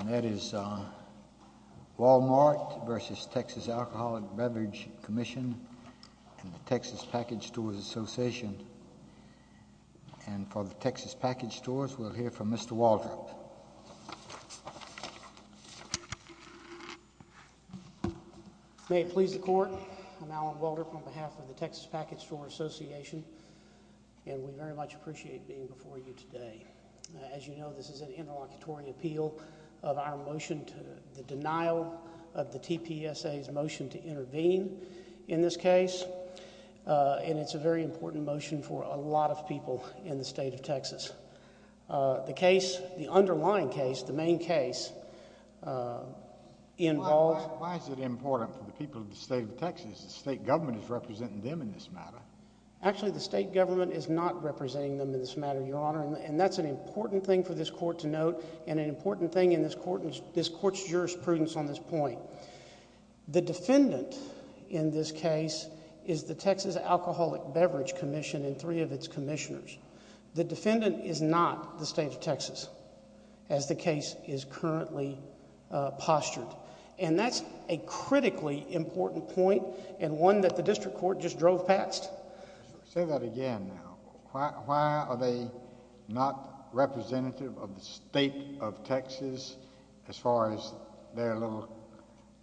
And that is Wal-Mart v. Texas Alcoholic Beverage Commission and the Texas Package Stores Association. And for the Texas Package Stores, we'll hear from Mr. Waldrop. May it please the Court, I'm Alan Waldrop on behalf of the Texas Package Stores Association, and we very much appreciate being before you today. As you know, this is an interlocutory appeal of our motion to the denial of the TPSA's motion to intervene in this case. And it's a very important motion for a lot of people in the state of Texas. The case, the underlying case, the main case, involves... Why is it important for the people of the state of Texas? The state government is representing them in this matter. Actually, the state government is not representing them in this matter, Your Honor, and that's an important thing for this Court to note and an important thing in this Court's jurisprudence on this point. The defendant in this case is the Texas Alcoholic Beverage Commission and three of its commissioners. The defendant is not the state of Texas, as the case is currently postured. And that's a critically important point and one that the District Court just drove past. Say that again now. Why are they not representative of the state of Texas as far as their little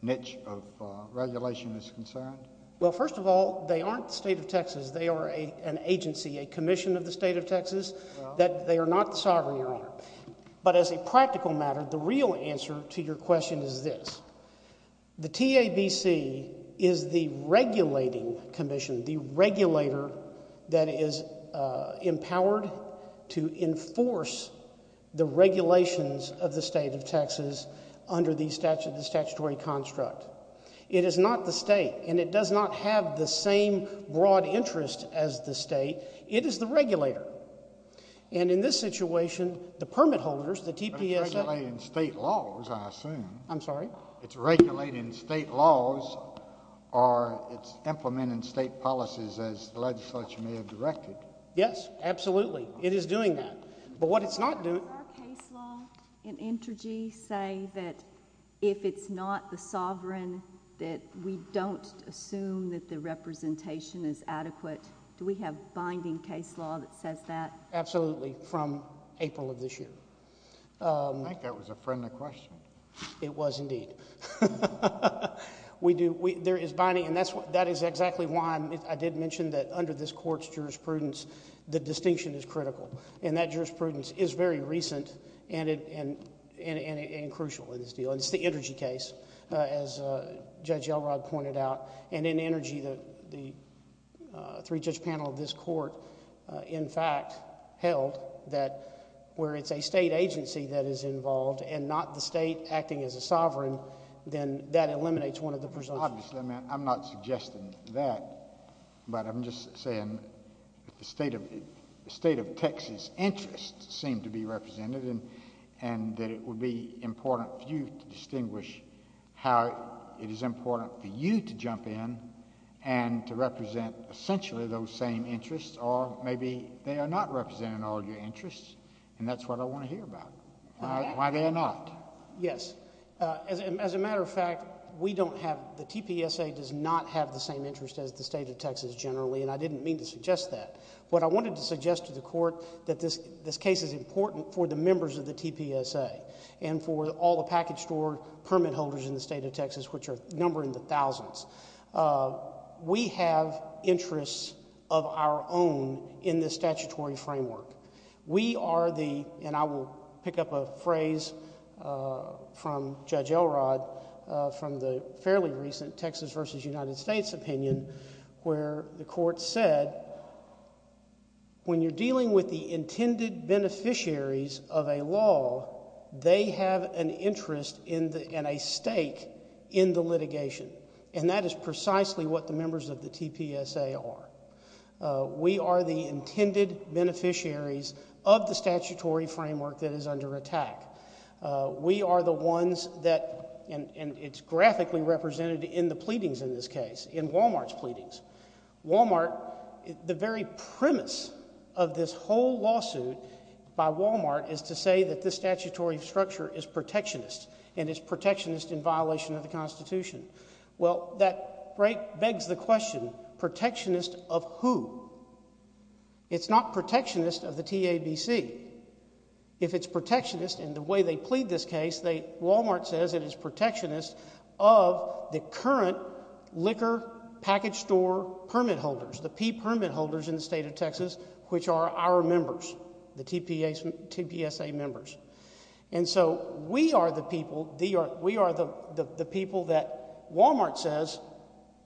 niche of regulation is concerned? Well, first of all, they aren't the state of Texas. They are an agency, a commission of the state of Texas that they are not the sovereign, Your Honor. But as a practical matter, the real answer to your question is this. The TABC is the regulating commission, the regulator that is empowered to enforce the regulations of the state of Texas under the statutory construct. It is not the state and it does not have the same broad interest as the state. It is the regulator. And in this situation, the permit holders, the TPSA— It's regulating state laws, I assume. I'm sorry? It's regulating state laws or it's implementing state policies as the legislature may have directed. Yes, absolutely. It is doing that. But what it's not doing— Does our case law in Intergy say that if it's not the sovereign that we don't assume that the representation is adequate? Do we have binding case law that says that? Absolutely, from April of this year. I think that was a friendly question. It was indeed. There is binding and that is exactly why I did mention that under this court's jurisprudence, the distinction is critical. And that jurisprudence is very recent and crucial in this deal. It's the Intergy case, as Judge Elrod pointed out. And in Intergy, the three-judge panel of this court, in fact, held that where it's a state agency that is involved and not the state acting as a sovereign, then that eliminates one of the presumptions. Obviously, I'm not suggesting that, but I'm just saying that the state of Texas' interests seem to be represented and that it would be important for you to distinguish how it is important for you to jump in and to represent essentially those same interests. Or maybe they are not representing all your interests, and that's what I want to hear about. Why they are not. Yes. As a matter of fact, we don't have, the TPSA does not have the same interest as the state of Texas generally, and I didn't mean to suggest that. What I wanted to suggest to the court that this case is important for the members of the TPSA and for all the package store permit holders in the state of Texas, which are numbering the thousands. We have interests of our own in the statutory framework. We are the, and I will pick up a phrase from Judge Elrod from the fairly recent Texas versus United States opinion, where the court said, when you're dealing with the intended beneficiaries of a law, they have an interest and a stake in the litigation. And that is precisely what the members of the TPSA are. We are the intended beneficiaries of the statutory framework that is under attack. We are the ones that, and it's graphically represented in the pleadings in this case, in Wal-Mart's pleadings. Wal-Mart, the very premise of this whole lawsuit by Wal-Mart is to say that this statutory structure is protectionist, and it's protectionist in violation of the Constitution. Well, that begs the question, protectionist of who? It's not protectionist of the TABC. If it's protectionist in the way they plead this case, Wal-Mart says it is protectionist of the current liquor package store permit holders, the P permit holders in the state of Texas, which are our members, the TPSA members. And so we are the people, we are the people that Wal-Mart says,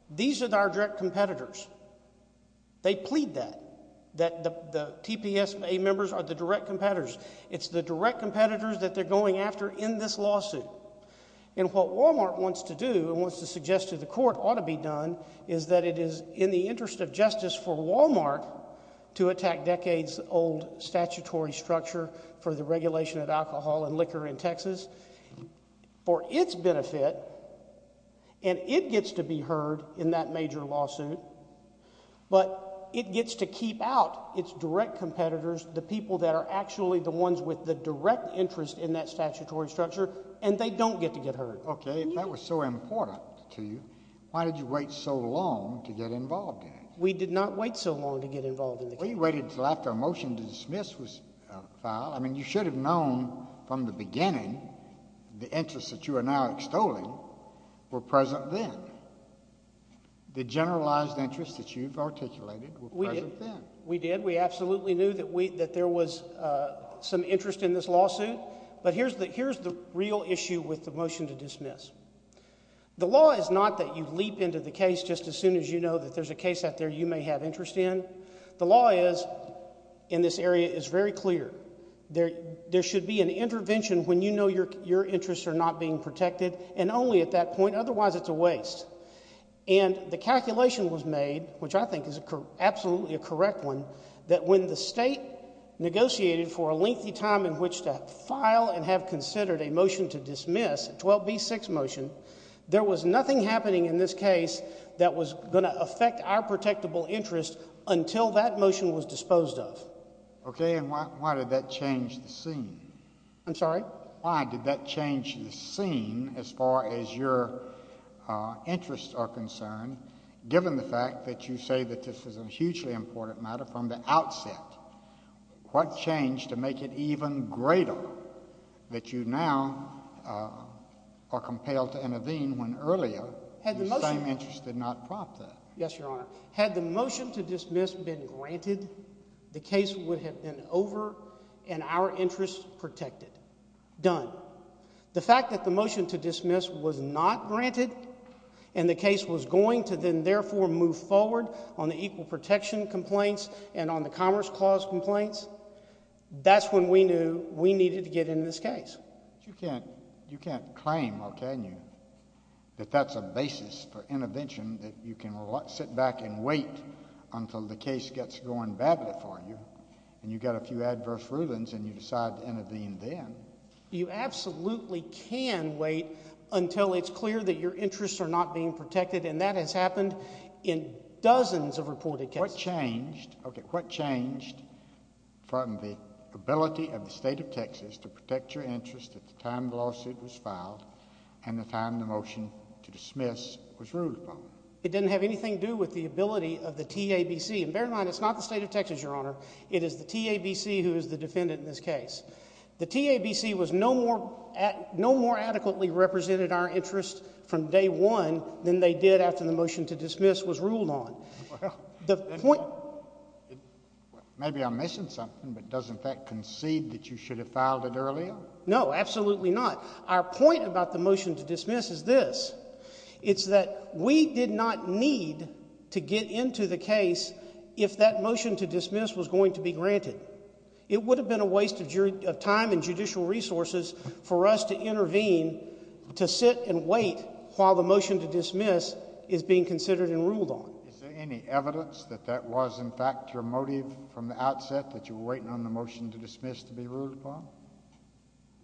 these are our direct competitors. They plead that, that the TPSA members are the direct competitors. It's the direct competitors that they're going after in this lawsuit. And what Wal-Mart wants to do and wants to suggest to the court ought to be done is that it is in the interest of justice for Wal-Mart to attack decades old statutory structure for the regulation of alcohol and liquor in Texas for its benefit, and it gets to be heard in that major lawsuit. But it gets to keep out its direct competitors, the people that are actually the ones with the direct interest in that statutory structure, and they don't get to get heard. Okay, if that was so important to you, why did you wait so long to get involved in it? We did not wait so long to get involved in the case. Well, you waited until after a motion to dismiss was filed. I mean, you should have known from the beginning the interests that you are now extolling were present then. The generalized interests that you've articulated were present then. We did. We absolutely knew that there was some interest in this lawsuit. But here's the real issue with the motion to dismiss. The law is not that you leap into the case just as soon as you know that there's a case out there you may have interest in. The law is, in this area, is very clear. There should be an intervention when you know your interests are not being protected, and only at that point. Otherwise, it's a waste. And the calculation was made, which I think is absolutely a correct one, that when the state negotiated for a lengthy time in which to file and have considered a motion to dismiss, a 12b6 motion, there was nothing happening in this case that was going to affect our protectable interest until that motion was disposed of. Okay. And why did that change the scene? I'm sorry? Why did that change the scene as far as your interests are concerned, given the fact that you say that this is a hugely important matter from the outset? What changed to make it even greater that you now are compelled to intervene when earlier the same interest did not prompt that? Yes, Your Honor. Had the motion to dismiss been granted, the case would have been over and our interests protected. Done. The fact that the motion to dismiss was not granted and the case was going to then therefore move forward on the Equal Protection Complaints and on the Commerce Clause Complaints, that's when we knew we needed to get into this case. But you can't claim, or can you, that that's a basis for intervention, that you can sit back and wait until the case gets going badly for you and you've got a few adverse rulings and you decide to intervene then. You absolutely can wait until it's clear that your interests are not being protected, and that has happened in dozens of reported cases. What changed from the ability of the State of Texas to protect your interests at the time the lawsuit was filed and the time the motion to dismiss was ruled upon? It didn't have anything to do with the ability of the TABC. And bear in mind, it's not the State of Texas, Your Honor. It is the TABC who is the defendant in this case. The TABC no more adequately represented our interests from day one than they did after the motion to dismiss was ruled on. Maybe I'm missing something, but doesn't that concede that you should have filed it earlier? No, absolutely not. Our point about the motion to dismiss is this. It's that we did not need to get into the case if that motion to dismiss was going to be granted. It would have been a waste of time and judicial resources for us to intervene, to sit and wait while the motion to dismiss is being considered and ruled on. Any evidence that that was, in fact, your motive from the outset that you were waiting on the motion to dismiss to be ruled upon?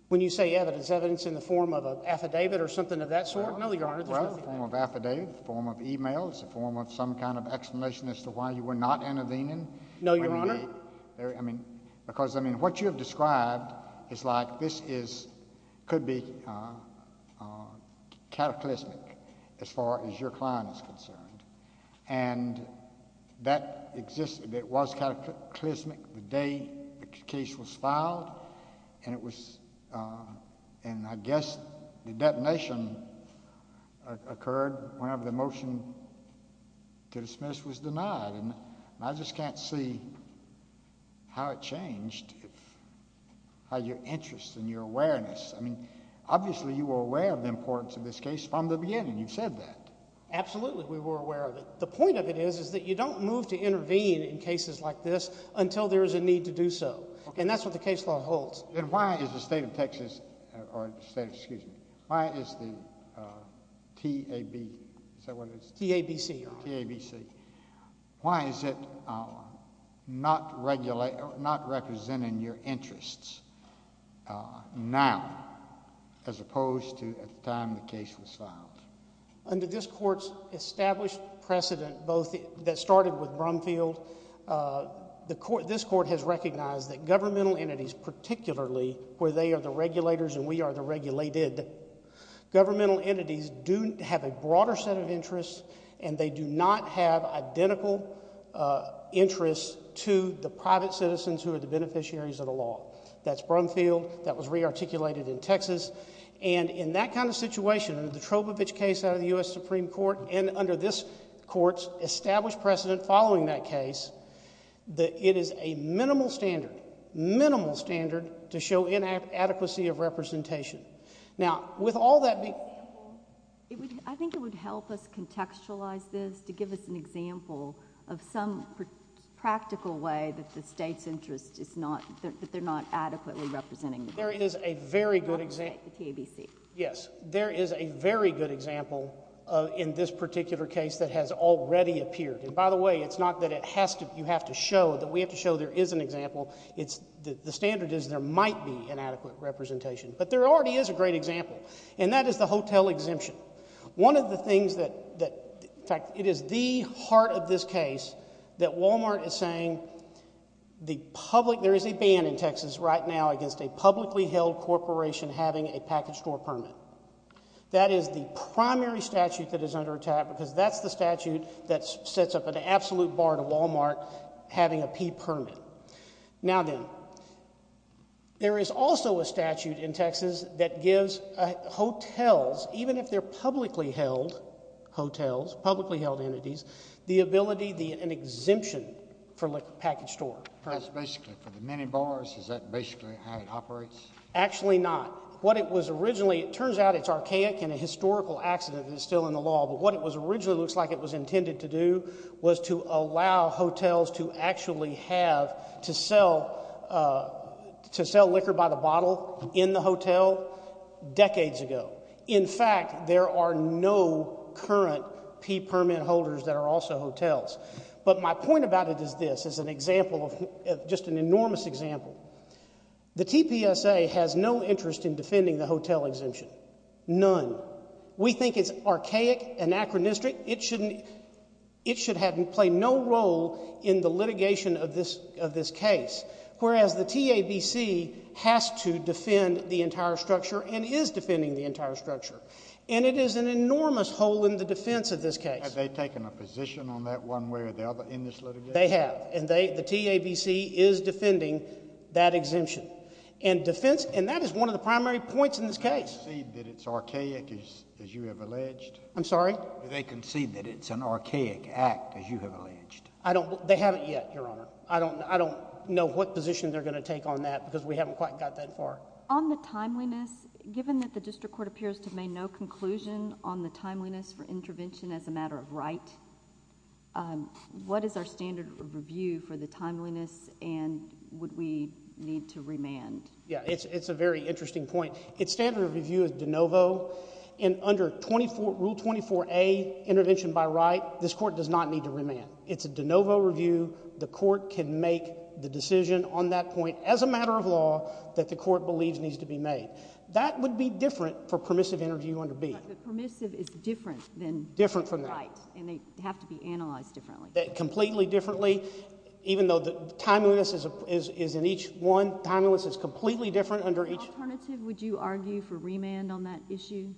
When you say evidence, evidence in the form of an affidavit or something of that sort? No, Your Honor. Well, a form of affidavit, a form of email, a form of some kind of explanation as to why you were not intervening. No, Your Honor. Because, I mean, what you have described is like this could be cataclysmic as far as your client is concerned. And that existed, it was cataclysmic the day the case was filed, and I guess the detonation occurred whenever the motion to dismiss was denied. And I just can't see how it changed how your interest and your awareness, I mean, obviously you were aware of the importance of this case from the beginning. You said that. Absolutely, we were aware of it. The point of it is that you don't move to intervene in cases like this until there is a need to do so. And that's what the case law holds. And why is the state of Texas, excuse me, why is the TABC, is that what it is? T-A-B-C, Your Honor. T-A-B-C. Why is it not representing your interests now as opposed to at the time the case was filed? Under this Court's established precedent that started with Brumfield, this Court has recognized that governmental entities, particularly where they are the regulators and we are the regulated, governmental entities do have a broader set of interests and they do not have identical interests to the private citizens who are the beneficiaries of the law. That's Brumfield. That was re-articulated in Texas. And in that kind of situation, under the Trobovich case out of the U.S. Supreme Court and under this Court's established precedent following that case, it is a minimal standard, minimal standard to show inadequacy of representation. Now, with all that being… I think it would help us contextualize this to give us an example of some practical way that the state's interest is not, that they're not adequately representing. There is a very good example. Yes. There is a very good example in this particular case that has already appeared. And by the way, it's not that it has to, you have to show, that we have to show there is an example. It's, the standard is there might be inadequate representation. But there already is a great example. And that is the hotel exemption. One of the things that, in fact, it is the heart of this case that Walmart is saying the public, there is a ban in Texas right now against a publicly held corporation having a package store permit. That is the primary statute that is under attack because that's the statute that sets up an absolute bar to Walmart having a P permit. Now then, there is also a statute in Texas that gives hotels, even if they're publicly held hotels, publicly held entities, the ability, an exemption for a package store. That's basically for the many bars? Is that basically how it operates? Actually not. What it was originally, it turns out it's archaic and a historical accident and it's still in the law. But what it originally looks like it was intended to do was to allow hotels to actually have, to sell, to sell liquor by the bottle in the hotel decades ago. In fact, there are no current P permit holders that are also hotels. But my point about it is this, is an example of, just an enormous example. The TPSA has no interest in defending the hotel exemption. None. We think it's archaic and anachronistic. It should have played no role in the litigation of this case. Whereas the TABC has to defend the entire structure and is defending the entire structure. And it is an enormous hole in the defense of this case. Have they taken a position on that one way or the other in this litigation? They have. And the TABC is defending that exemption. And that is one of the primary points in this case. Do they concede that it's archaic as you have alleged? I'm sorry? Do they concede that it's an archaic act as you have alleged? They haven't yet, Your Honor. I don't know what position they're going to take on that because we haven't quite got that far. On the timeliness, given that the district court appears to have made no conclusion on the timeliness for intervention as a matter of right, what is our standard of review for the timeliness and would we need to remand? Yeah, it's a very interesting point. Its standard of review is de novo and under Rule 24A, intervention by right, this court does not need to remand. It's a de novo review. The court can make the decision on that point as a matter of law that the court believes needs to be made. That would be different for permissive interview under B. But permissive is different than right. Different from that. And they have to be analyzed differently. Completely differently, even though the timeliness is in each one, timeliness is completely different under each. What alternative would you argue for remand on that issue?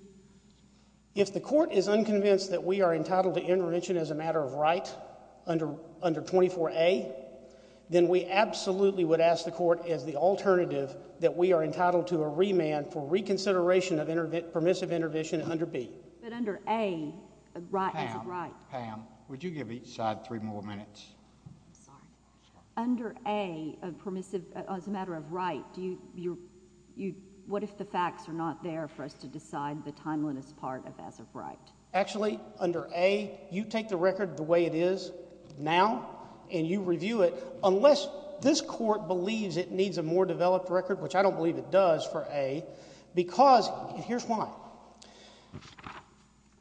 If the court is unconvinced that we are entitled to intervention as a matter of right under 24A, then we absolutely would ask the court as the alternative that we are entitled to a remand for reconsideration of permissive intervention under B. But under A, is it right? Pam, would you give each side three more minutes? Sorry. Under A, as a matter of right, what if the facts are not there for us to decide the timeliness part of as of right? Actually, under A, you take the record the way it is now and you review it unless this court believes it needs a more developed record, which I don't believe it does for A, because here's why.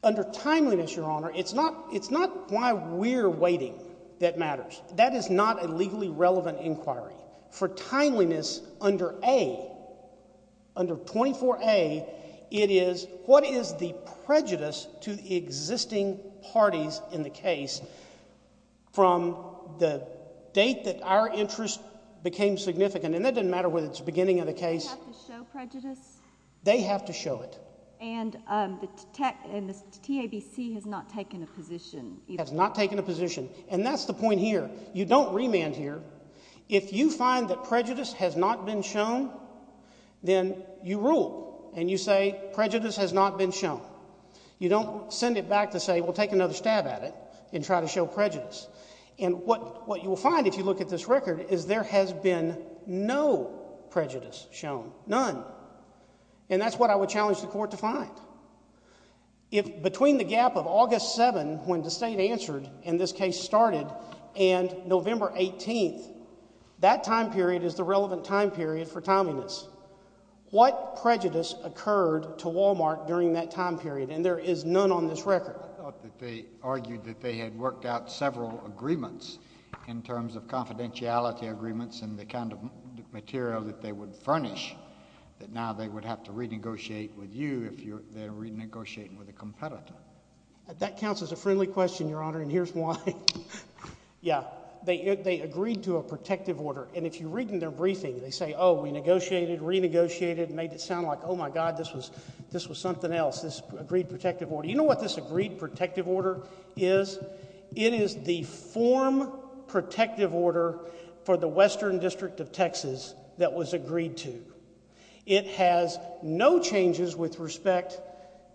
Under timeliness, Your Honor, it's not why we're waiting that matters. That is not a legally relevant inquiry. For timeliness under A, under 24A, it is what is the prejudice to the existing parties in the case from the date that our interest became significant. And that doesn't matter whether it's the beginning of the case. They have to show prejudice? They have to show it. And the TABC has not taken a position? Has not taken a position. And that's the point here. You don't remand here. If you find that prejudice has not been shown, then you rule and you say prejudice has not been shown. You don't send it back to say, well, take another stab at it and try to show prejudice. And what you will find if you look at this record is there has been no prejudice shown. None. And that's what I would challenge the Court to find. If between the gap of August 7, when the State answered and this case started, and November 18, that time period is the relevant time period for timeliness. What prejudice occurred to Wal-Mart during that time period? And there is none on this record. I thought that they argued that they had worked out several agreements in terms of confidentiality agreements and the kind of material that they would furnish that now they would have to renegotiate with you if they're renegotiating with a competitor. That counts as a friendly question, Your Honor, and here's why. Yeah, they agreed to a protective order. And if you read in their briefing, they say, oh, we negotiated, renegotiated, made it sound like, oh, my God, this was something else, this agreed protective order. You know what this agreed protective order is? It is the form protective order for the Western District of Texas that was agreed to. It has no changes with respect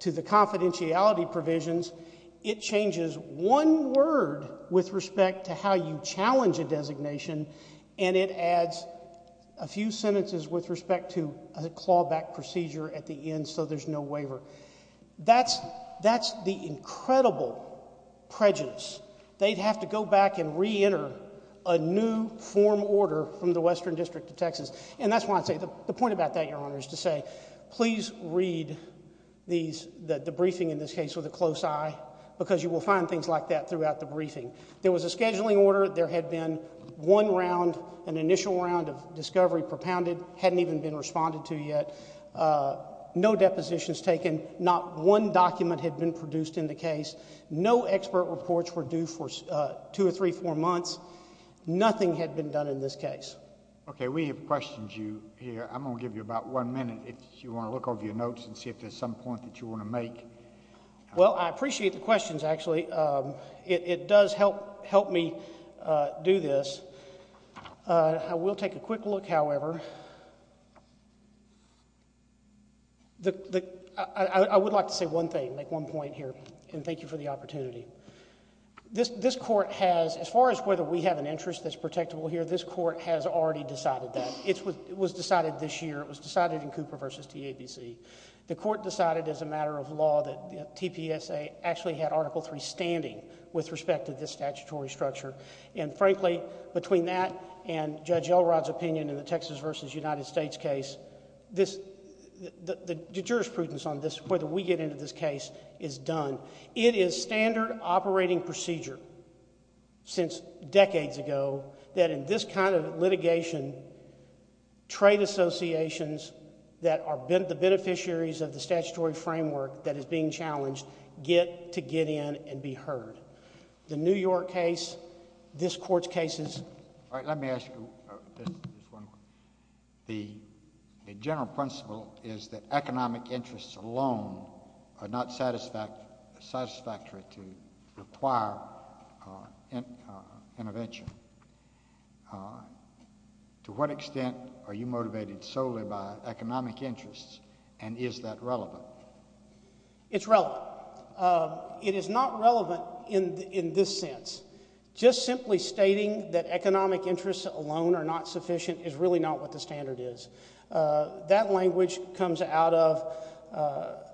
to the confidentiality provisions. It changes one word with respect to how you challenge a designation, and it adds a few sentences with respect to a clawback procedure at the end so there's no waiver. That's the incredible prejudice. They'd have to go back and reenter a new form order from the Western District of Texas. And that's why I say the point about that, Your Honor, is to say please read the briefing in this case with a close eye because you will find things like that throughout the briefing. There was a scheduling order. There had been one round, an initial round of discovery propounded, hadn't even been responded to yet. No depositions taken. Not one document had been produced in the case. No expert reports were due for two or three, four months. Nothing had been done in this case. Okay, we have questions here. I'm going to give you about one minute if you want to look over your notes and see if there's some point that you want to make. Well, I appreciate the questions, actually. It does help me do this. I will take a quick look, however. I would like to say one thing, make one point here, and thank you for the opportunity. This court has, as far as whether we have an interest that's protectable here, this court has already decided that. It was decided this year. It was decided in Cooper v. TABC. The court decided as a matter of law that TPSA actually had Article III standing with respect to this statutory structure. And frankly, between that and Judge Elrod's opinion in the Texas v. United States case, the jurisprudence on whether we get into this case is done. It is standard operating procedure since decades ago that in this kind of litigation, trade associations that are the beneficiaries of the statutory framework that is being challenged get to get in and be heard. The New York case, this court's cases... All right, let me ask you just one question. The general principle is that economic interests alone are not satisfactory to require intervention. To what extent are you motivated solely by economic interests, and is that relevant? It's relevant. But, it is not relevant in this sense. Just simply stating that economic interests alone are not sufficient is really not what the standard is. That language comes out of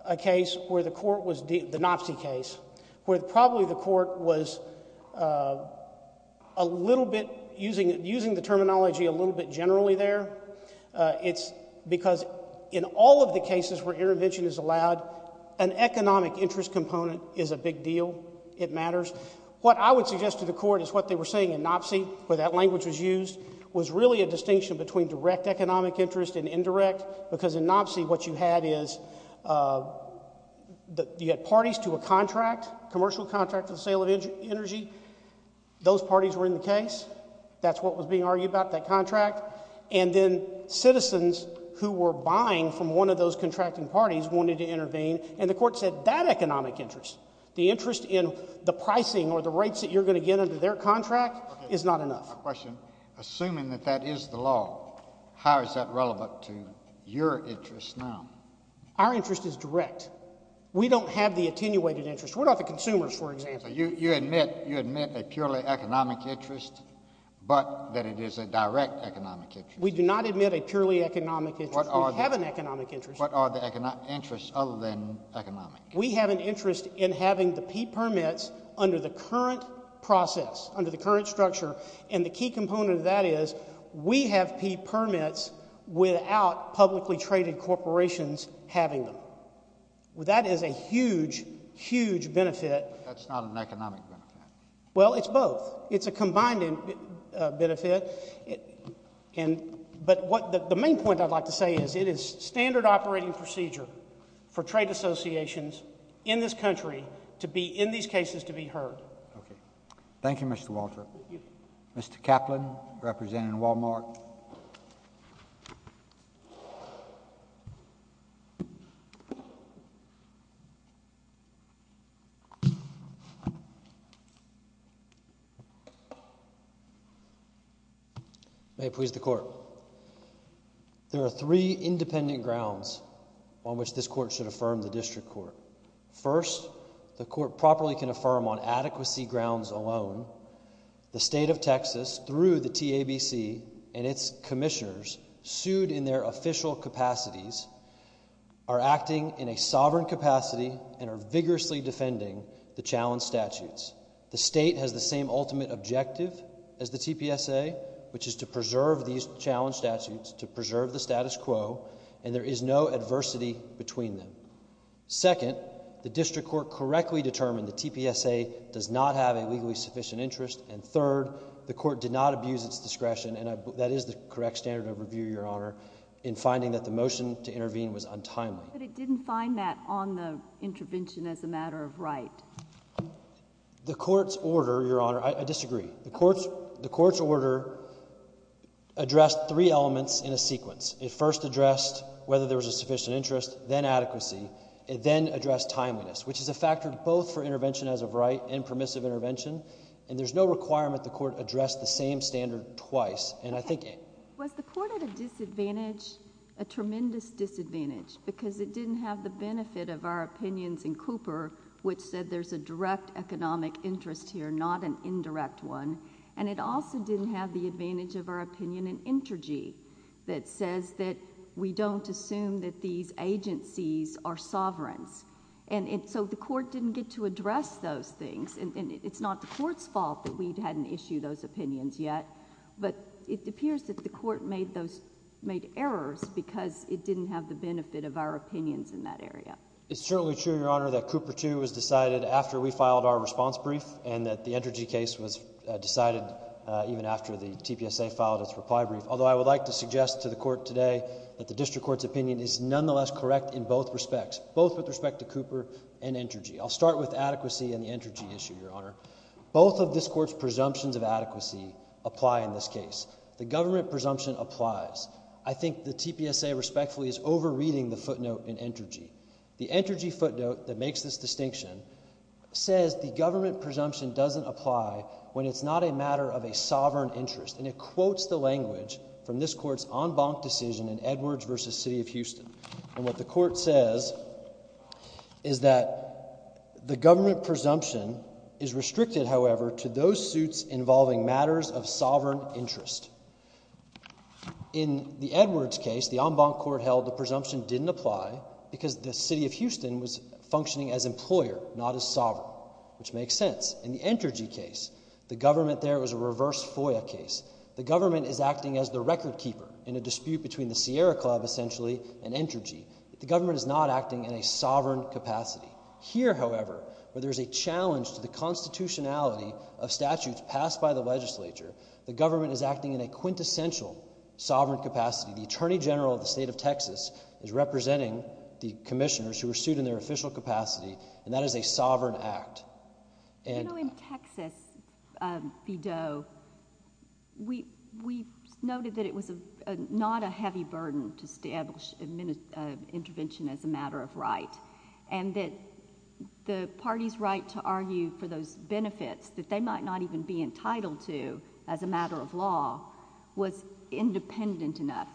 a case where the court was... the Knopsey case... where probably the court was a little bit... using the terminology a little bit generally there. It's because in all of the cases where intervention is allowed, an economic interest component is a big deal. It matters. What I would suggest to the court is what they were saying in Knopsey, where that language was used, was really a distinction between direct economic interest and indirect. Because in Knopsey, what you had is... you had parties to a contract, commercial contract for the sale of energy. Those parties were in the case. That's what was being argued about, that contract. And then, citizens who were buying from one of those contracting parties wanted to intervene. And, the court said that economic interest, the interest in the pricing or the rates that you're going to get under their contract, is not enough. Okay. My question. Assuming that that is the law, how is that relevant to your interest now? Our interest is direct. We don't have the attenuated interest. We're not the consumers, for example. So, you admit a purely economic interest, but that it is a direct economic interest. We do not admit a purely economic interest. We have an economic interest. What are the interests other than economic? We have an interest in having the P permits under the current process, under the current structure. And, the key component of that is, we have P permits without publicly traded corporations having them. That is a huge, huge benefit. But, that's not an economic benefit. Well, it's both. It's a combined benefit. But, the main point I'd like to say is, it is standard operating procedure for trade associations in this country to be, in these cases, to be heard. Thank you, Mr. Walter. Mr. Kaplan, representing Walmart. Thank you. May it please the Court. There are three independent grounds on which this Court should affirm the District Court. First, the Court properly can affirm on adequacy grounds alone, the State of Texas, through the TABC and its commissioners, sued in their official capacities, are acting in a sovereign capacity and are vigorously defending the challenge statutes. The State has the same ultimate objective as the TPSA, which is to preserve these challenge statutes, to preserve the status quo, and there is no adversity between them. Second, the District Court correctly determined the TPSA does not have a legally sufficient interest. And third, the Court did not abuse its discretion, and that is the correct standard of review, Your Honor, in finding that the motion to intervene was untimely. But, it didn't find that on the intervention as a matter of right. The Court's order, Your Honor, I disagree. The Court's order addressed three elements in a sequence. It first addressed whether there was a sufficient interest, then adequacy, and then addressed timeliness, which is a factor both for intervention as of right and permissive intervention. And there's no requirement the Court addressed the same standard twice. Was the Court at a disadvantage, a tremendous disadvantage, because it didn't have the benefit of our opinions in Cooper, which said there's a direct economic interest here, not an indirect one. And it also didn't have the advantage of our opinion in Intergy, that says that we don't assume that these agencies are sovereigns. And so the Court didn't get to address those things, and it's not the Court's fault that we hadn't issued those opinions yet. But it appears that the Court made errors because it didn't have the benefit of our opinions in that area. It's certainly true, Your Honor, that Cooper, too, was decided after we filed our response brief, and that the Intergy case was decided even after the TPSA filed its reply brief. Although I would like to suggest to the Court today that the district court's opinion is nonetheless correct in both respects, both with respect to Cooper and Intergy. I'll start with adequacy and the Intergy issue, Your Honor. Both of this Court's presumptions of adequacy apply in this case. The government presumption applies. I think the TPSA respectfully is over-reading the footnote in Intergy. The Intergy footnote that makes this distinction says the government presumption doesn't apply when it's not a matter of a sovereign interest. And it quotes the language from this Court's en banc decision in Edwards v. City of Houston. And what the Court says is that the government presumption is restricted, however, to those suits involving matters of sovereign interest. In the Edwards case, the en banc court held the presumption didn't apply because the City of Houston was functioning as employer, not as sovereign, which makes sense. In the Intergy case, the government there was a reverse FOIA case. The government is acting as the record keeper in a dispute between the Sierra Club, essentially, and Intergy. The government is not acting in a sovereign capacity. Here, however, where there's a challenge to the constitutionality of statutes passed by the legislature, the government is acting in a quintessential sovereign capacity. The Attorney General of the State of Texas is representing the commissioners who were sued in their official capacity, and that is a sovereign act. You know, in Texas v. Doe, we noted that it was not a heavy burden to establish intervention as a matter of right. And that the party's right to argue for those benefits that they might not even be entitled to as a matter of law was independent enough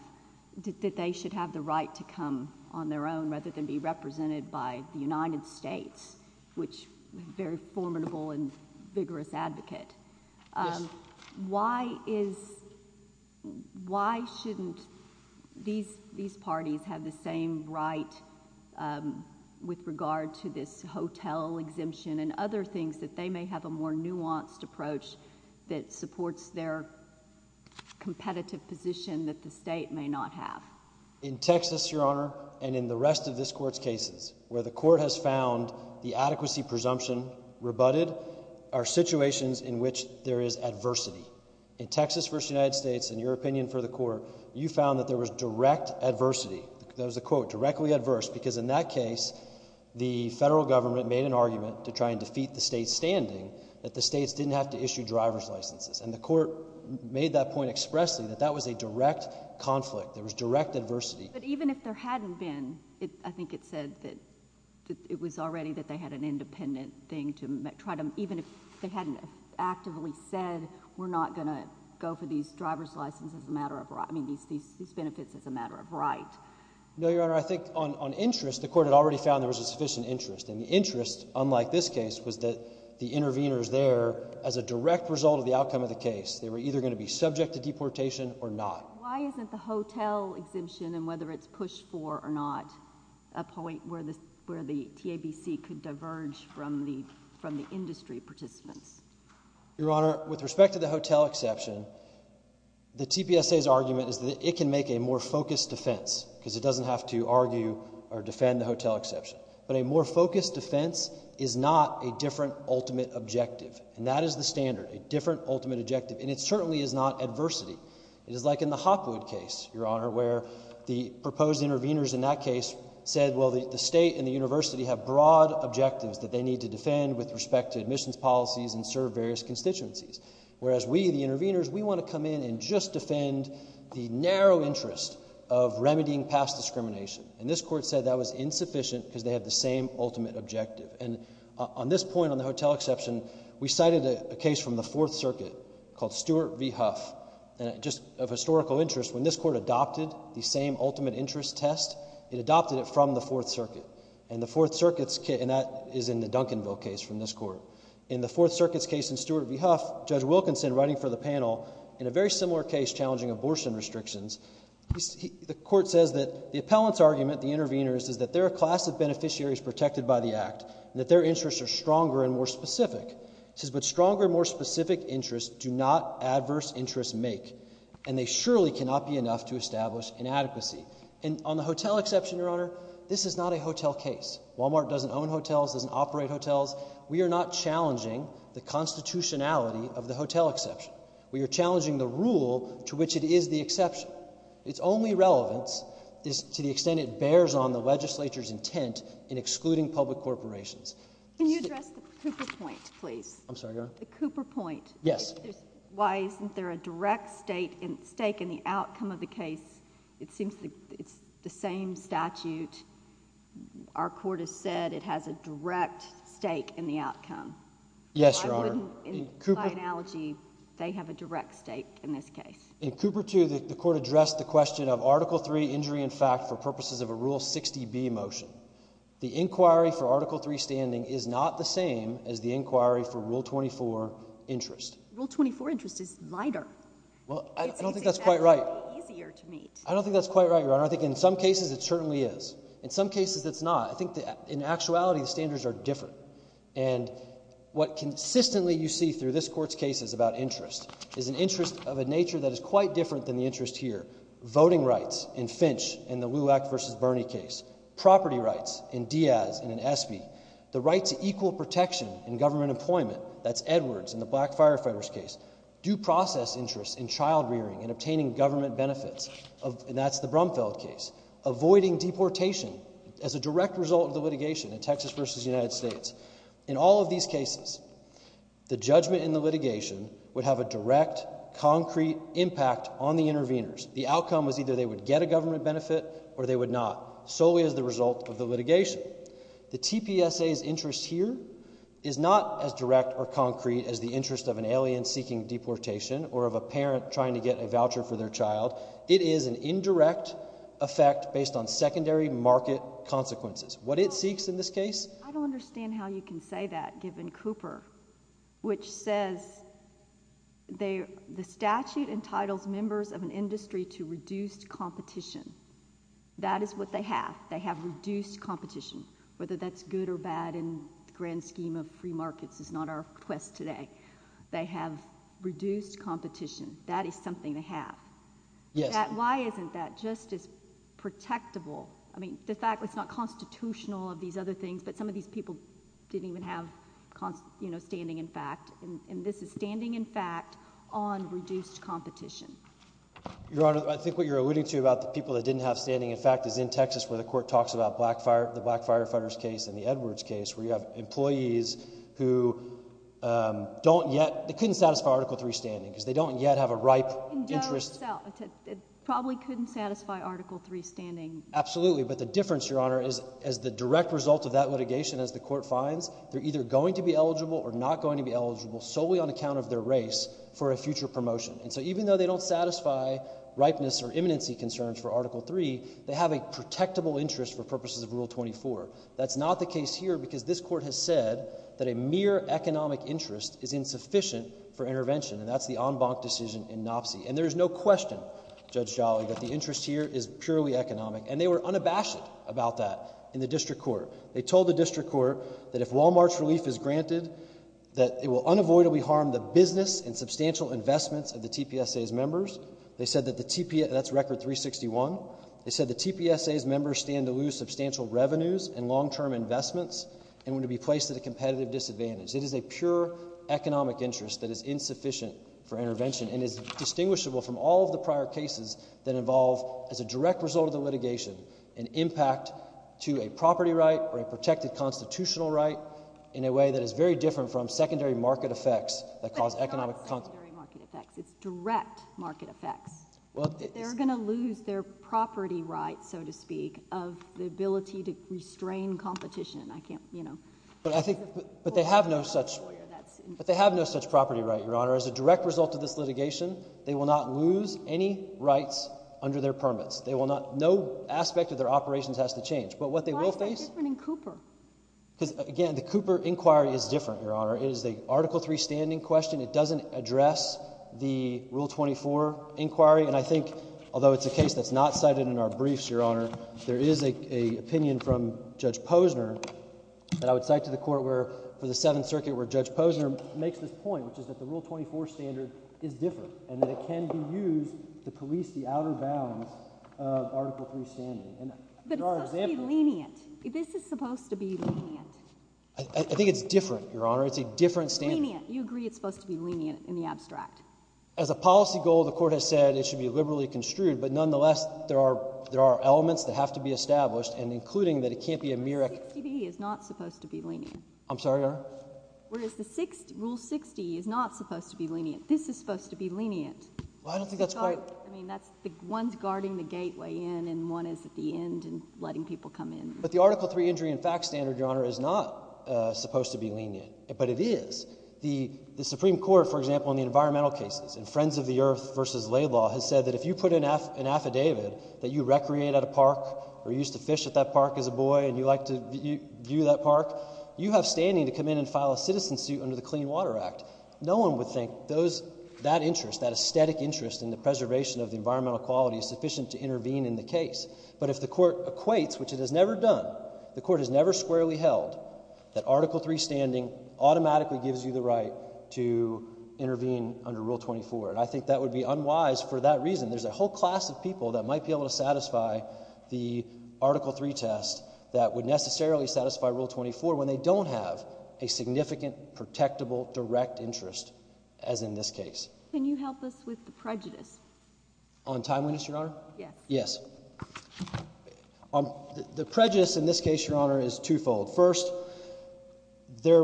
that they should have the right to come on their own rather than be represented by the United States, which is a very formidable and vigorous advocate. Why shouldn't these parties have the same right with regard to this hotel exemption and other things that they may have a more nuanced approach that supports their competitive position that the state may not have? In Texas, Your Honor, and in the rest of this court's cases where the court has found the adequacy presumption rebutted are situations in which there is adversity. In Texas v. United States, in your opinion for the court, you found that there was direct adversity. There was a quote, directly adverse, because in that case, the federal government made an argument to try and defeat the state's standing that the states didn't have to issue driver's licenses. And the court made that point expressly, that that was a direct conflict. There was direct adversity. But even if there hadn't been, I think it said that it was already that they had an independent thing to try to, even if they hadn't actively said we're not going to go for these driver's licenses as a matter of right, I mean these benefits as a matter of right. No, Your Honor, I think on interest, the court had already found there was a sufficient interest. And the interest, unlike this case, was that the interveners there, as a direct result of the outcome of the case, they were either going to be subject to deportation or not. Why isn't the hotel exemption, and whether it's pushed for or not, a point where the TABC could diverge from the industry participants? Your Honor, with respect to the hotel exception, the TPSA's argument is that it can make a more focused defense, because it doesn't have to argue or defend the hotel exception. But a more focused defense is not a different ultimate objective. And that is the standard, a different ultimate objective. And it certainly is not adversity. It is like in the Hopwood case, Your Honor, where the proposed interveners in that case said, well, the state and the university have broad objectives that they need to defend with respect to admissions policies and serve various constituencies. Whereas we, the interveners, we want to come in and just defend the narrow interest of remedying past discrimination. And this court said that was insufficient because they had the same ultimate objective. And on this point, on the hotel exception, we cited a case from the Fourth Circuit called Stewart v. Huff. And just of historical interest, when this court adopted the same ultimate interest test, it adopted it from the Fourth Circuit. And the Fourth Circuit's case, and that is in the Duncanville case from this court. In the Fourth Circuit's case in Stewart v. Huff, Judge Wilkinson, writing for the panel, in a very similar case challenging abortion restrictions, the court says that the appellant's argument, the intervener's, is that there are a class of beneficiaries protected by the act. And that their interests are stronger and more specific. It says, but stronger and more specific interests do not adverse interests make. And they surely cannot be enough to establish inadequacy. And on the hotel exception, Your Honor, this is not a hotel case. Walmart doesn't own hotels, doesn't operate hotels. We are not challenging the constitutionality of the hotel exception. We are challenging the rule to which it is the exception. Its only relevance is to the extent it bears on the legislature's intent in excluding public corporations. Can you address the Cooper point, please? I'm sorry, Your Honor? The Cooper point. Yes. Why isn't there a direct stake in the outcome of the case? It seems it's the same statute. Our court has said it has a direct stake in the outcome. Yes, Your Honor. In my analogy, they have a direct stake in this case. In Cooper 2, the court addressed the question of Article 3 injury in fact for purposes of a Rule 60B motion. The inquiry for Article 3 standing is not the same as the inquiry for Rule 24 interest. Rule 24 interest is lighter. Well, I don't think that's quite right. It's exactly easier to meet. I don't think that's quite right, Your Honor. I think in some cases it certainly is. In some cases it's not. I think in actuality the standards are different. And what consistently you see through this court's case is about interest. It's an interest of a nature that is quite different than the interest here. Voting rights in Finch in the Lewak v. Bernie case. Property rights in Diaz and in Espy. The right to equal protection in government employment. That's Edwards in the black firefighters case. Due process interests in child rearing and obtaining government benefits. And that's the Brumfeld case. Avoiding deportation as a direct result of the litigation in Texas v. United States. In all of these cases, the judgment in the litigation would have a direct, concrete impact on the interveners. The outcome was either they would get a government benefit or they would not. So is the result of the litigation. The TPSA's interest here is not as direct or concrete as the interest of an alien seeking deportation or of a parent trying to get a voucher for their child. It is an indirect effect based on secondary market consequences. What it seeks in this case. I don't understand how you can say that given Cooper. Which says the statute entitles members of an industry to reduced competition. That is what they have. They have reduced competition. Whether that's good or bad in the grand scheme of free markets is not our quest today. They have reduced competition. That is something to have. Yes. Why isn't that just as protectable? I mean, the fact that it's not constitutional of these other things. But some of these people didn't even have standing in fact. And this is standing in fact on reduced competition. Your Honor, I think what you're alluding to about the people that didn't have standing in fact is in Texas where the court talks about the black firefighters case and the Edwards case. Where you have employees who don't yet. They couldn't satisfy Article 3 standing because they don't yet have a ripe interest. It probably couldn't satisfy Article 3 standing. Absolutely. But the difference, Your Honor, is as the direct result of that litigation as the court finds, they're either going to be eligible or not going to be eligible solely on account of their race for a future promotion. And so even though they don't satisfy ripeness or imminency concerns for Article 3, they have a protectable interest for purposes of Rule 24. That's not the case here because this court has said that a mere economic interest is insufficient for intervention. And that's the en banc decision in NOPC. And there is no question, Judge Jolly, that the interest here is purely economic. And they were unabashed about that in the district court. They told the district court that if Wal-Mart's relief is granted, that it will unavoidably harm the business and substantial investments of the TPSA's members. They said that the TPSA's members stand to lose substantial revenues. and long-term investments and would be placed at a competitive disadvantage. It is a pure economic interest that is insufficient for intervention and is distinguishable from all of the prior cases that involve, as a direct result of the litigation, an impact to a property right or a protected constitutional right in a way that is very different from secondary market effects that cause economic consequences. But it's not secondary market effects. It's direct market effects. They're going to lose their property rights, so to speak, of the ability to restrain competition. But they have no such property right, Your Honor. As a direct result of this litigation, they will not lose any rights under their permits. No aspect of their operations has to change. Why is that different in Cooper? Because, again, the Cooper inquiry is different, Your Honor. It is an Article III standing question. It doesn't address the Rule 24 inquiry. And I think, although it's a case that's not cited in our briefs, Your Honor, there is an opinion from Judge Posner that I would cite to the Court for the Seventh Circuit where Judge Posner makes this point, which is that the Rule 24 standard is different and that it can be used to police the outer bounds of Article III standing. But it's supposed to be lenient. This is supposed to be lenient. I think it's different, Your Honor. It's a different standard. Lenient. You agree it's supposed to be lenient in the abstract. As a policy goal, the Court has said it should be liberally construed. But nonetheless, there are elements that have to be established, and including that it can't be a mere— 60B is not supposed to be lenient. I'm sorry, Your Honor? Whereas Rule 60 is not supposed to be lenient. This is supposed to be lenient. Well, I don't think that's quite— I mean, one's guarding the gateway in and one is at the end and letting people come in. But the Article III injury and facts standard, Your Honor, is not supposed to be lenient. But it is. The Supreme Court, for example, in the environmental cases, in Friends of the Earth v. Laidlaw, has said that if you put in an affidavit that you recreate at a park or you used to fish at that park as a boy and you like to view that park, you have standing to come in and file a citizen suit under the Clean Water Act. No one would think that interest, that aesthetic interest in the preservation of the environmental quality is sufficient to intervene in the case. But if the court equates, which it has never done, the court has never squarely held, that Article III standing automatically gives you the right to intervene under Rule 24. And I think that would be unwise for that reason. There's a whole class of people that might be able to satisfy the Article III test that would necessarily satisfy Rule 24 when they don't have a significant, protectable, direct interest as in this case. Can you help us with the prejudice? On time witness, Your Honor? Yes. The prejudice in this case, Your Honor, is twofold. First, there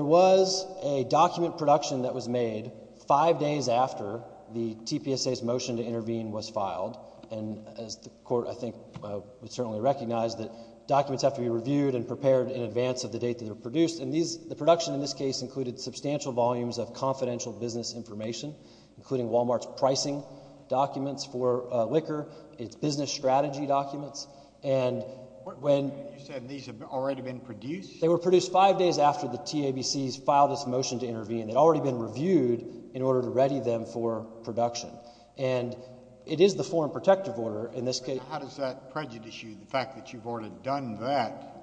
was a document production that was made five days after the TPSA's motion to intervene was filed. And as the court, I think, would certainly recognize that documents have to be reviewed and prepared in advance of the date that they were produced. And the production in this case included substantial volumes of confidential business information, including Wal-Mart's pricing documents for liquor, its business strategy documents. And when— You said these have already been produced? They were produced five days after the TABC's filed its motion to intervene. They'd already been reviewed in order to ready them for production. And it is the Foreign Protective Order in this case— But how does that prejudice you, the fact that you've already done that?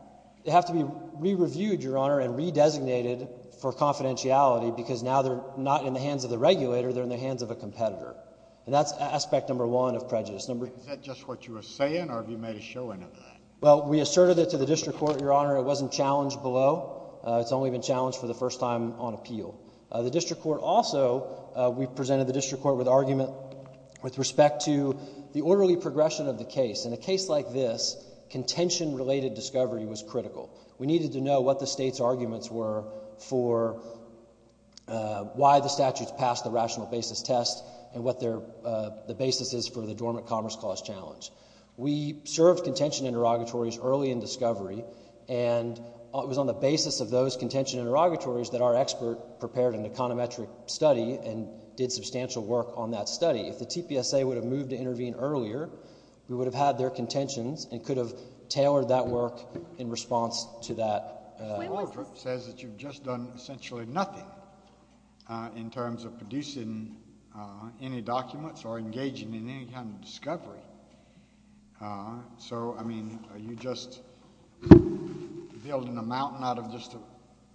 They have to be re-reviewed, Your Honor, and re-designated for confidentiality because now they're not in the hands of the regulator. They're in the hands of a competitor. And that's aspect number one of prejudice. Is that just what you were saying, or have you made a showing of that? Well, we asserted it to the district court, Your Honor. It wasn't challenged below. It's only been challenged for the first time on appeal. The district court also—we presented the district court with argument with respect to the orderly progression of the case. In a case like this, contention-related discovery was critical. We needed to know what the state's arguments were for why the statute's passed the rational basis test and what the basis is for the dormant commerce clause challenge. We served contention interrogatories early in discovery, and it was on the basis of those contention interrogatories that our expert prepared an econometric study and did substantial work on that study. If the TPSA would have moved to intervene earlier, we would have had their contentions and could have tailored that work in response to that. The order says that you've just done essentially nothing in terms of producing any documents or engaging in any kind of discovery. So, I mean, are you just building a mountain out of just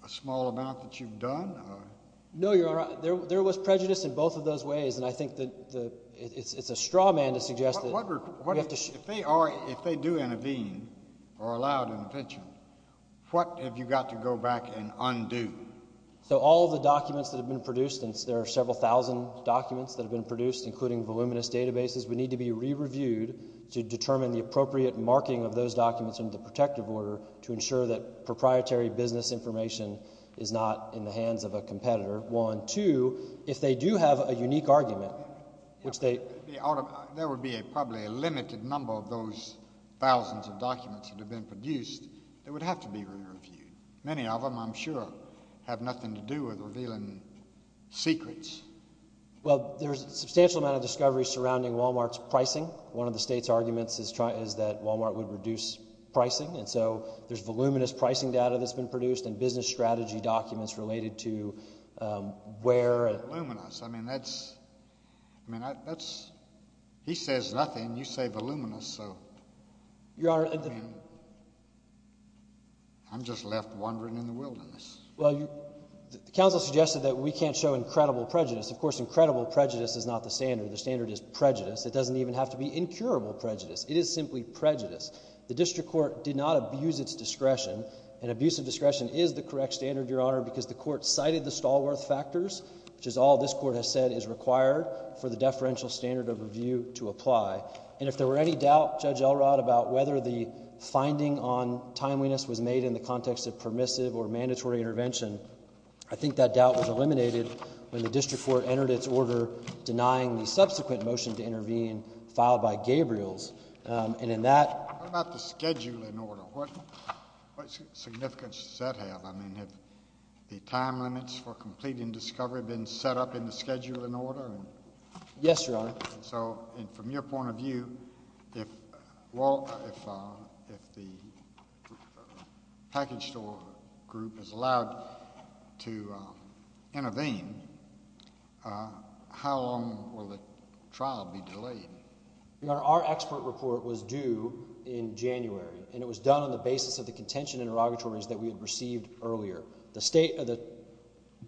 a small amount that you've done? No, Your Honor. There was prejudice in both of those ways, and I think that it's a straw man to suggest that— If they do intervene or allow an intervention, what have you got to go back and undo? So all of the documents that have been produced, and there are several thousand documents that have been produced, including voluminous databases, would need to be re-reviewed to determine the appropriate marking of those documents under the protective order to ensure that proprietary business information is not in the hands of a competitor. One. Two, if they do have a unique argument, which they— There would be probably a limited number of those thousands of documents that have been produced that would have to be re-reviewed. Many of them, I'm sure, have nothing to do with revealing secrets. Well, there's a substantial amount of discovery surrounding Walmart's pricing. One of the state's arguments is that Walmart would reduce pricing, and so there's voluminous pricing data that's been produced and business strategy documents related to where— Voluminous. I mean, that's—I mean, that's—he says nothing. You say voluminous, so— Your Honor— I mean, I'm just left wandering in the wilderness. Well, you—the counsel suggested that we can't show incredible prejudice. Of course, incredible prejudice is not the standard. The standard is prejudice. It doesn't even have to be incurable prejudice. It is simply prejudice. The district court did not abuse its discretion, and abuse of discretion is the correct standard, Your Honor, because the court cited the Stallworth factors, which is all this court has said is required for the deferential standard of review to apply. And if there were any doubt, Judge Elrod, about whether the finding on timeliness was made in the context of permissive or mandatory intervention, I think that doubt was eliminated when the district court entered its order denying the subsequent motion to intervene filed by Gabriels. And in that— I mean, have the time limits for completing discovery been set up in the scheduling order? Yes, Your Honor. So from your point of view, if the package store group is allowed to intervene, how long will the trial be delayed? Your Honor, our expert report was due in January, and it was done on the basis of the contention interrogatories that we had received earlier. The state—the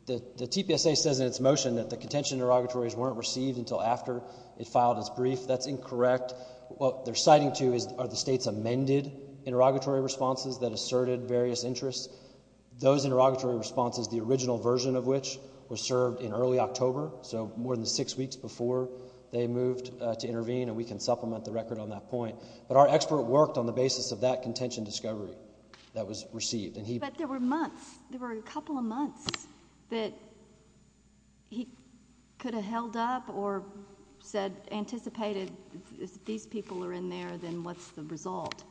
TPSA says in its motion that the contention interrogatories weren't received until after it filed its brief. That's incorrect. What they're citing to are the state's amended interrogatory responses that asserted various interests. Those interrogatory responses, the original version of which, were served in early October, so more than six weeks before they moved to intervene, and we can supplement the record on that point. But our expert worked on the basis of that contention discovery that was received, and he— But there were months. There were a couple of months that he could have held up or said—anticipated, if these people are in there, then what's the result?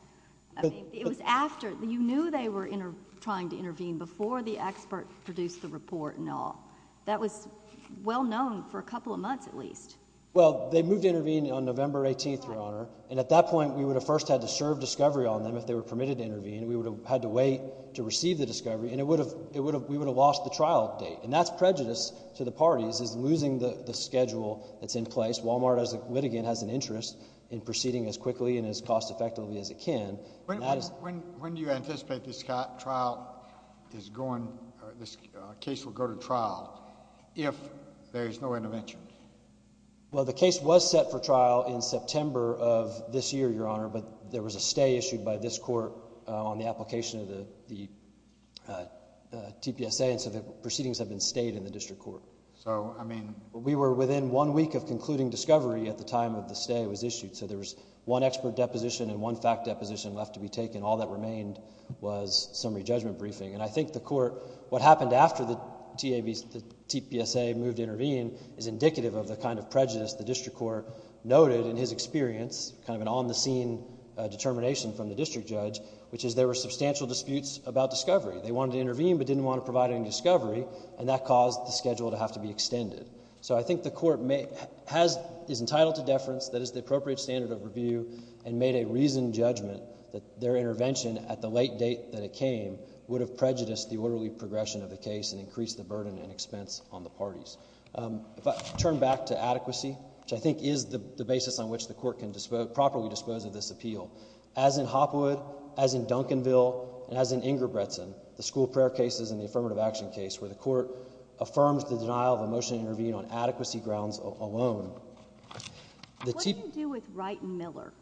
I mean, it was after. You knew they were trying to intervene before the expert produced the report and all. That was well known for a couple of months at least. Well, they moved to intervene on November 18th, Your Honor. And at that point, we would have first had to serve discovery on them if they were permitted to intervene. We would have had to wait to receive the discovery, and it would have—we would have lost the trial date. And that's prejudice to the parties is losing the schedule that's in place. Walmart, as a litigant, has an interest in proceeding as quickly and as cost-effectively as it can. When do you anticipate this trial is going—this case will go to trial if there is no intervention? Well, the case was set for trial in September of this year, Your Honor, but there was a stay issued by this court on the application of the TPSA, and so the proceedings have been stayed in the district court. So, I mean— We were within one week of concluding discovery at the time that the stay was issued. So, there was one expert deposition and one fact deposition left to be taken. All that remained was summary judgment briefing. And I think the court—what happened after the TPSA moved to intervene is indicative of the kind of prejudice the district court noted in his experience, kind of an on-the-scene determination from the district judge, which is there were substantial disputes about discovery. They wanted to intervene but didn't want to provide any discovery, and that caused the schedule to have to be extended. So, I think the court has—is entitled to deference that is the appropriate standard of review and made a reasoned judgment that their intervention at the late date that it came would have prejudiced the orderly progression of the case and increased the burden and expense on the parties. If I turn back to adequacy, which I think is the basis on which the court can properly dispose of this appeal, as in Hopwood, as in Duncanville, and as in Ingerbretson, the school prayer cases and the affirmative action case where the court affirms the denial of a motion to intervene on adequacy grounds alone— What do you do with Wright and Miller?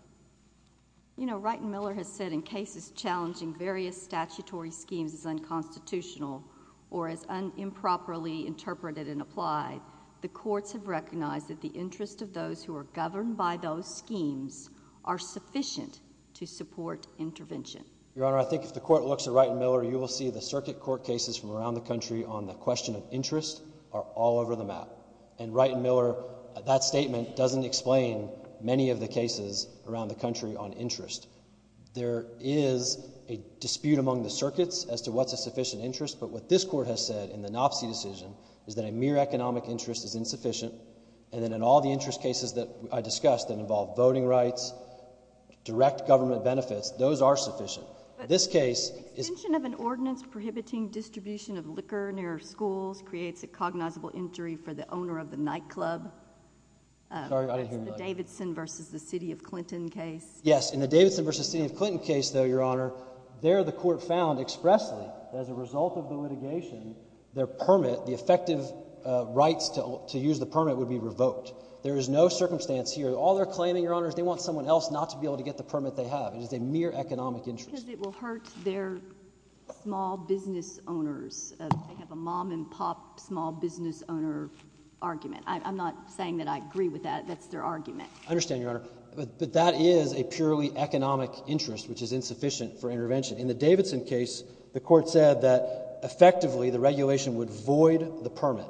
You know, Wright and Miller has said in cases challenging various statutory schemes as unconstitutional or as improperly interpreted and applied, the courts have recognized that the interest of those who are governed by those schemes are sufficient to support intervention. In Wright and Miller, you will see the circuit court cases from around the country on the question of interest are all over the map. In Wright and Miller, that statement doesn't explain many of the cases around the country on interest. There is a dispute among the circuits as to what's a sufficient interest, but what this court has said in the Nopsey decision is that a mere economic interest is insufficient and that in all the interest cases that I discussed that involve voting rights, direct government benefits, those are sufficient. But extension of an ordinance prohibiting distribution of liquor near schools creates a cognizable injury for the owner of the nightclub. Sorry, I didn't hear you. That's the Davidson v. the City of Clinton case. Yes. In the Davidson v. the City of Clinton case, though, Your Honor, there the court found expressly that as a result of the litigation, their permit, the effective rights to use the permit would be revoked. There is no circumstance here. All they're claiming, Your Honor, is they want someone else not to be able to get the permit they have. It is a mere economic interest. Because it will hurt their small business owners. They have a mom-and-pop small business owner argument. I'm not saying that I agree with that. That's their argument. I understand, Your Honor. But that is a purely economic interest, which is insufficient for intervention. In the Davidson case, the court said that effectively the regulation would void the permit.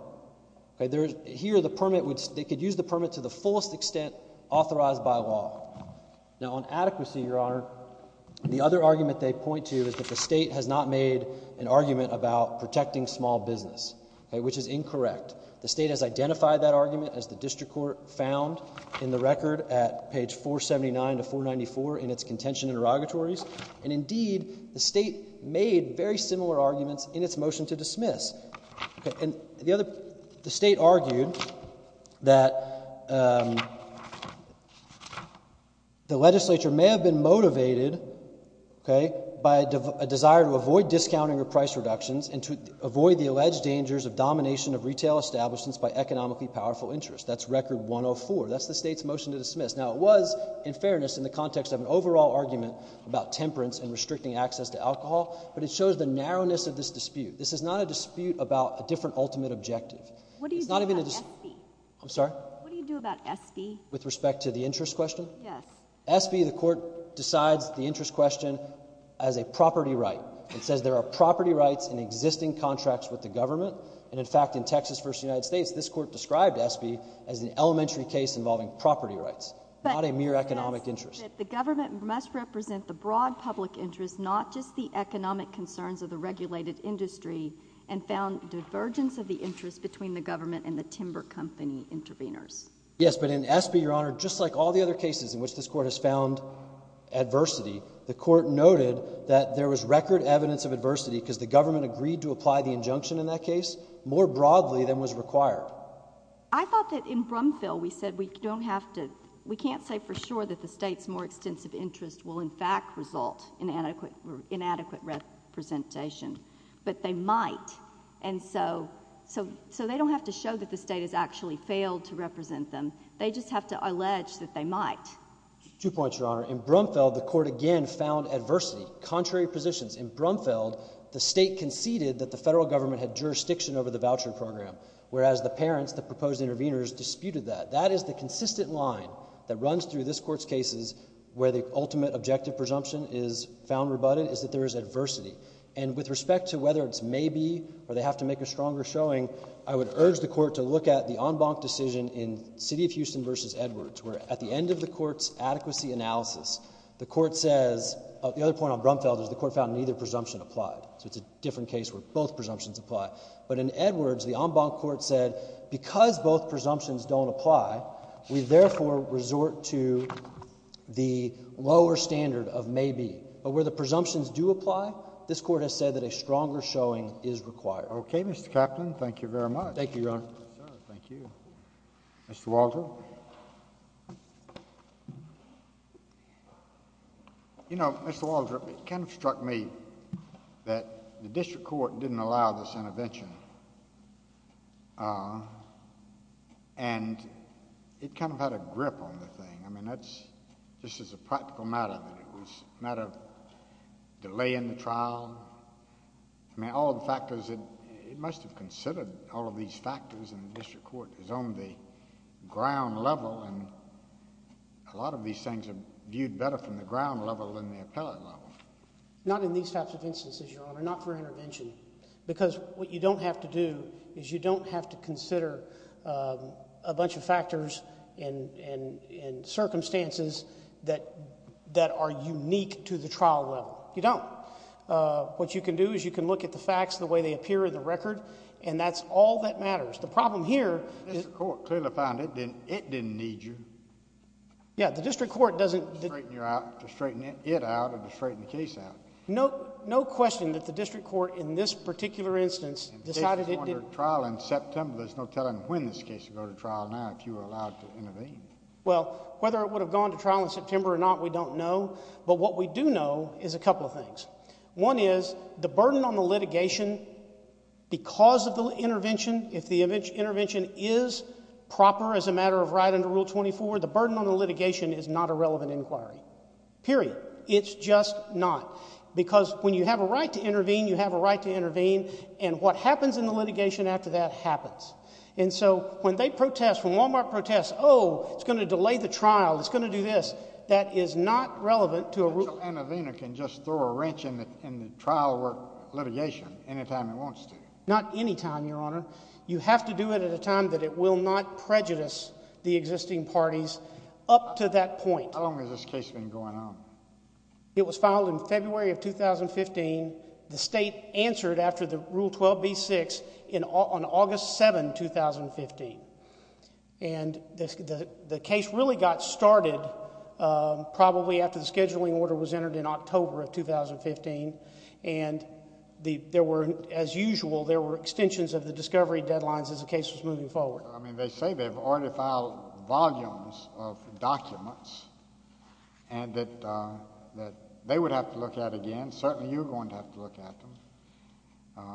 Here the permit, they could use the permit to the fullest extent authorized by law. Now, on adequacy, Your Honor, the other argument they point to is that the state has not made an argument about protecting small business, which is incorrect. The state has identified that argument, as the district court found in the record at page 479 to 494 in its contention interrogatories. And, indeed, the state made very similar arguments in its motion to dismiss. The state argued that the legislature may have been motivated by a desire to avoid discounting or price reductions and to avoid the alleged dangers of domination of retail establishments by economically powerful interests. That's record 104. That's the state's motion to dismiss. Now, it was, in fairness, in the context of an overall argument about temperance and restricting access to alcohol. But it shows the narrowness of this dispute. This is not a dispute about a different ultimate objective. What do you do about SB? I'm sorry? What do you do about SB? With respect to the interest question? Yes. SB, the court decides the interest question as a property right. It says there are property rights in existing contracts with the government. And, in fact, in Texas v. United States, this court described SB as an elementary case involving property rights, not a mere economic interest. I think that the government must represent the broad public interest, not just the economic concerns of the regulated industry, and found divergence of the interest between the government and the timber company interveners. Yes, but in SB, Your Honor, just like all the other cases in which this court has found adversity, the court noted that there was record evidence of adversity because the government agreed to apply the injunction in that case more broadly than was required. I thought that in Brumfield we said we don't have to—we can't say for sure that the state's more extensive interest will, in fact, result in inadequate representation. But they might. And so they don't have to show that the state has actually failed to represent them. They just have to allege that they might. Two points, Your Honor. In Brumfield, the court again found adversity, contrary positions. In Brumfield, the state conceded that the federal government had jurisdiction over the voucher program, whereas the parents, the proposed interveners, disputed that. That is the consistent line that runs through this Court's cases where the ultimate objective presumption is found rebutted, is that there is adversity. And with respect to whether it's maybe or they have to make a stronger showing, I would urge the Court to look at the en banc decision in City of Houston v. Edwards, where at the end of the Court's adequacy analysis, the Court says—the other point on Brumfield is the Court found neither presumption applied. So it's a different case where both presumptions apply. But in Edwards, the en banc Court said because both presumptions don't apply, we therefore resort to the lower standard of maybe. But where the presumptions do apply, this Court has said that a stronger showing is required. Okay, Mr. Kaplan. Thank you very much. Thank you, Your Honor. Thank you. Mr. Walter. You know, Mr. Walter, it kind of struck me that the District Court didn't allow this intervention. And it kind of had a grip on the thing. I mean, that's—this is a practical matter. It was a matter of delaying the trial. I mean, all the factors—it must have considered all of these factors, and the District Court is on the ground level, and a lot of these things are viewed better from the ground level than the appellate level. Not in these types of instances, Your Honor. Not for intervention. Because what you don't have to do is you don't have to consider a bunch of factors and circumstances that are unique to the trial level. You don't. What you can do is you can look at the facts the way they appear in the record, and that's all that matters. The problem here— The District Court clearly found it didn't need you. Yeah, the District Court doesn't— To straighten it out or to straighten the case out. No question that the District Court, in this particular instance, decided it didn't— And the case is going to trial in September. There's no telling when this case will go to trial now, if you were allowed to intervene. Well, whether it would have gone to trial in September or not, we don't know. But what we do know is a couple of things. One is the burden on the litigation, because of the intervention, if the intervention is proper as a matter of right under Rule 24, the burden on the litigation is not a relevant inquiry. Period. It's just not. Because when you have a right to intervene, you have a right to intervene. And what happens in the litigation after that happens. And so when they protest, when Wal-Mart protests, oh, it's going to delay the trial, it's going to do this, that is not relevant to a— An Avener can just throw a wrench in the trial litigation any time it wants to. Not any time, Your Honor. You have to do it at a time that it will not prejudice the existing parties up to that point. How long has this case been going on? It was filed in February of 2015. The state answered after the Rule 12b-6 on August 7, 2015. And the case really got started probably after the scheduling order was entered in October of 2015. And there were, as usual, there were extensions of the discovery deadlines as the case was moving forward. I mean, they say they've already filed volumes of documents and that they would have to look at again. Certainly you're going to have to look at them.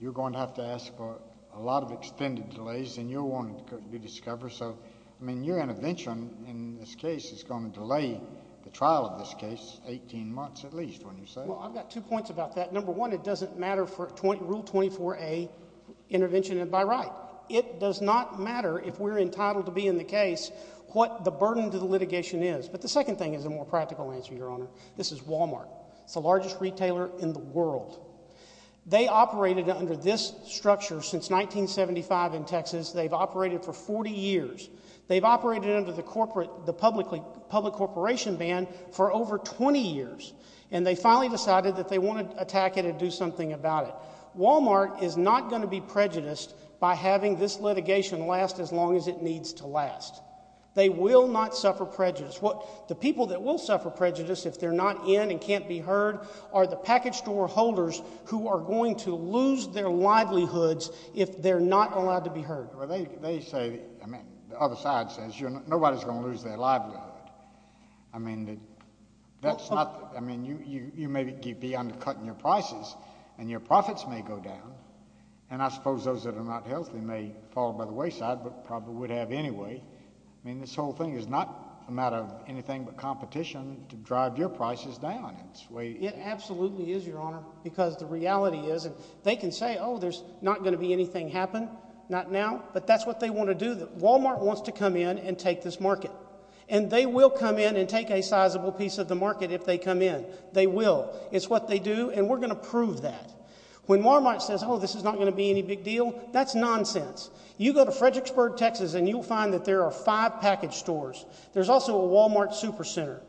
You're going to have to ask for a lot of extended delays, and you're going to be discovered. So, I mean, your intervention in this case is going to delay the trial of this case 18 months at least, wouldn't you say? Well, I've got two points about that. Number one, it doesn't matter for Rule 24a intervention and by right. It does not matter if we're entitled to be in the case what the burden to the litigation is. But the second thing is a more practical answer, Your Honor. This is Walmart. It's the largest retailer in the world. They operated under this structure since 1975 in Texas. They've operated for 40 years. They've operated under the public corporation ban for over 20 years. And they finally decided that they wanted to attack it and do something about it. Walmart is not going to be prejudiced by having this litigation last as long as it needs to last. They will not suffer prejudice. The people that will suffer prejudice if they're not in and can't be heard are the package store holders who are going to lose their livelihoods if they're not allowed to be heard. Well, they say, I mean, the other side says nobody's going to lose their livelihood. I mean, that's not, I mean, you may be undercutting your prices, and your profits may go down, and I suppose those that are not healthy may fall by the wayside but probably would have anyway. I mean, this whole thing is not a matter of anything but competition to drive your prices down. It absolutely is, Your Honor, because the reality is they can say, oh, there's not going to be anything happen. Not now, but that's what they want to do. Walmart wants to come in and take this market. And they will come in and take a sizable piece of the market if they come in. They will. It's what they do, and we're going to prove that. When Walmart says, oh, this is not going to be any big deal, that's nonsense. You go to Fredericksburg, Texas, and you'll find that there are five package stores. There's also a Walmart Supercenter.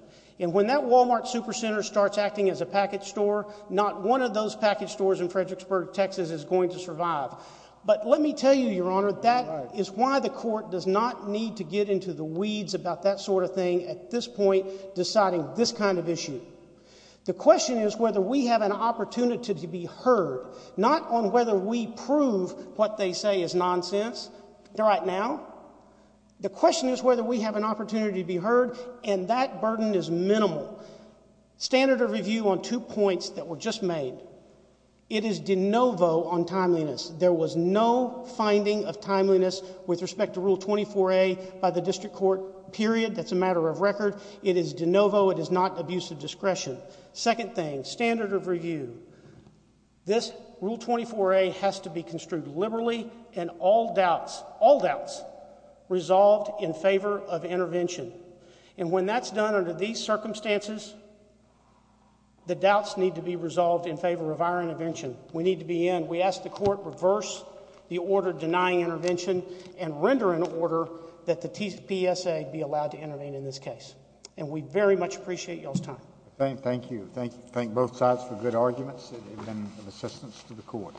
And when that Walmart Supercenter starts acting as a package store, not one of those package stores in Fredericksburg, Texas, is going to survive. But let me tell you, Your Honor, that is why the court does not need to get into the weeds about that sort of thing at this point deciding this kind of issue. The question is whether we have an opportunity to be heard, not on whether we prove what they say is nonsense right now. The question is whether we have an opportunity to be heard, and that burden is minimal. Standard of review on two points that were just made. It is de novo on timeliness. There was no finding of timeliness with respect to Rule 24a by the district court, period. It is de novo. It is not abuse of discretion. Second thing, standard of review. This Rule 24a has to be construed liberally and all doubts, all doubts, resolved in favor of intervention. And when that's done under these circumstances, the doubts need to be resolved in favor of our intervention. We need to be in. We ask the court reverse the order denying intervention and render an order that the PSA be allowed to intervene in this case. And we very much appreciate y'all's time. Thank you. Thank both sides for good arguments and assistance to the court.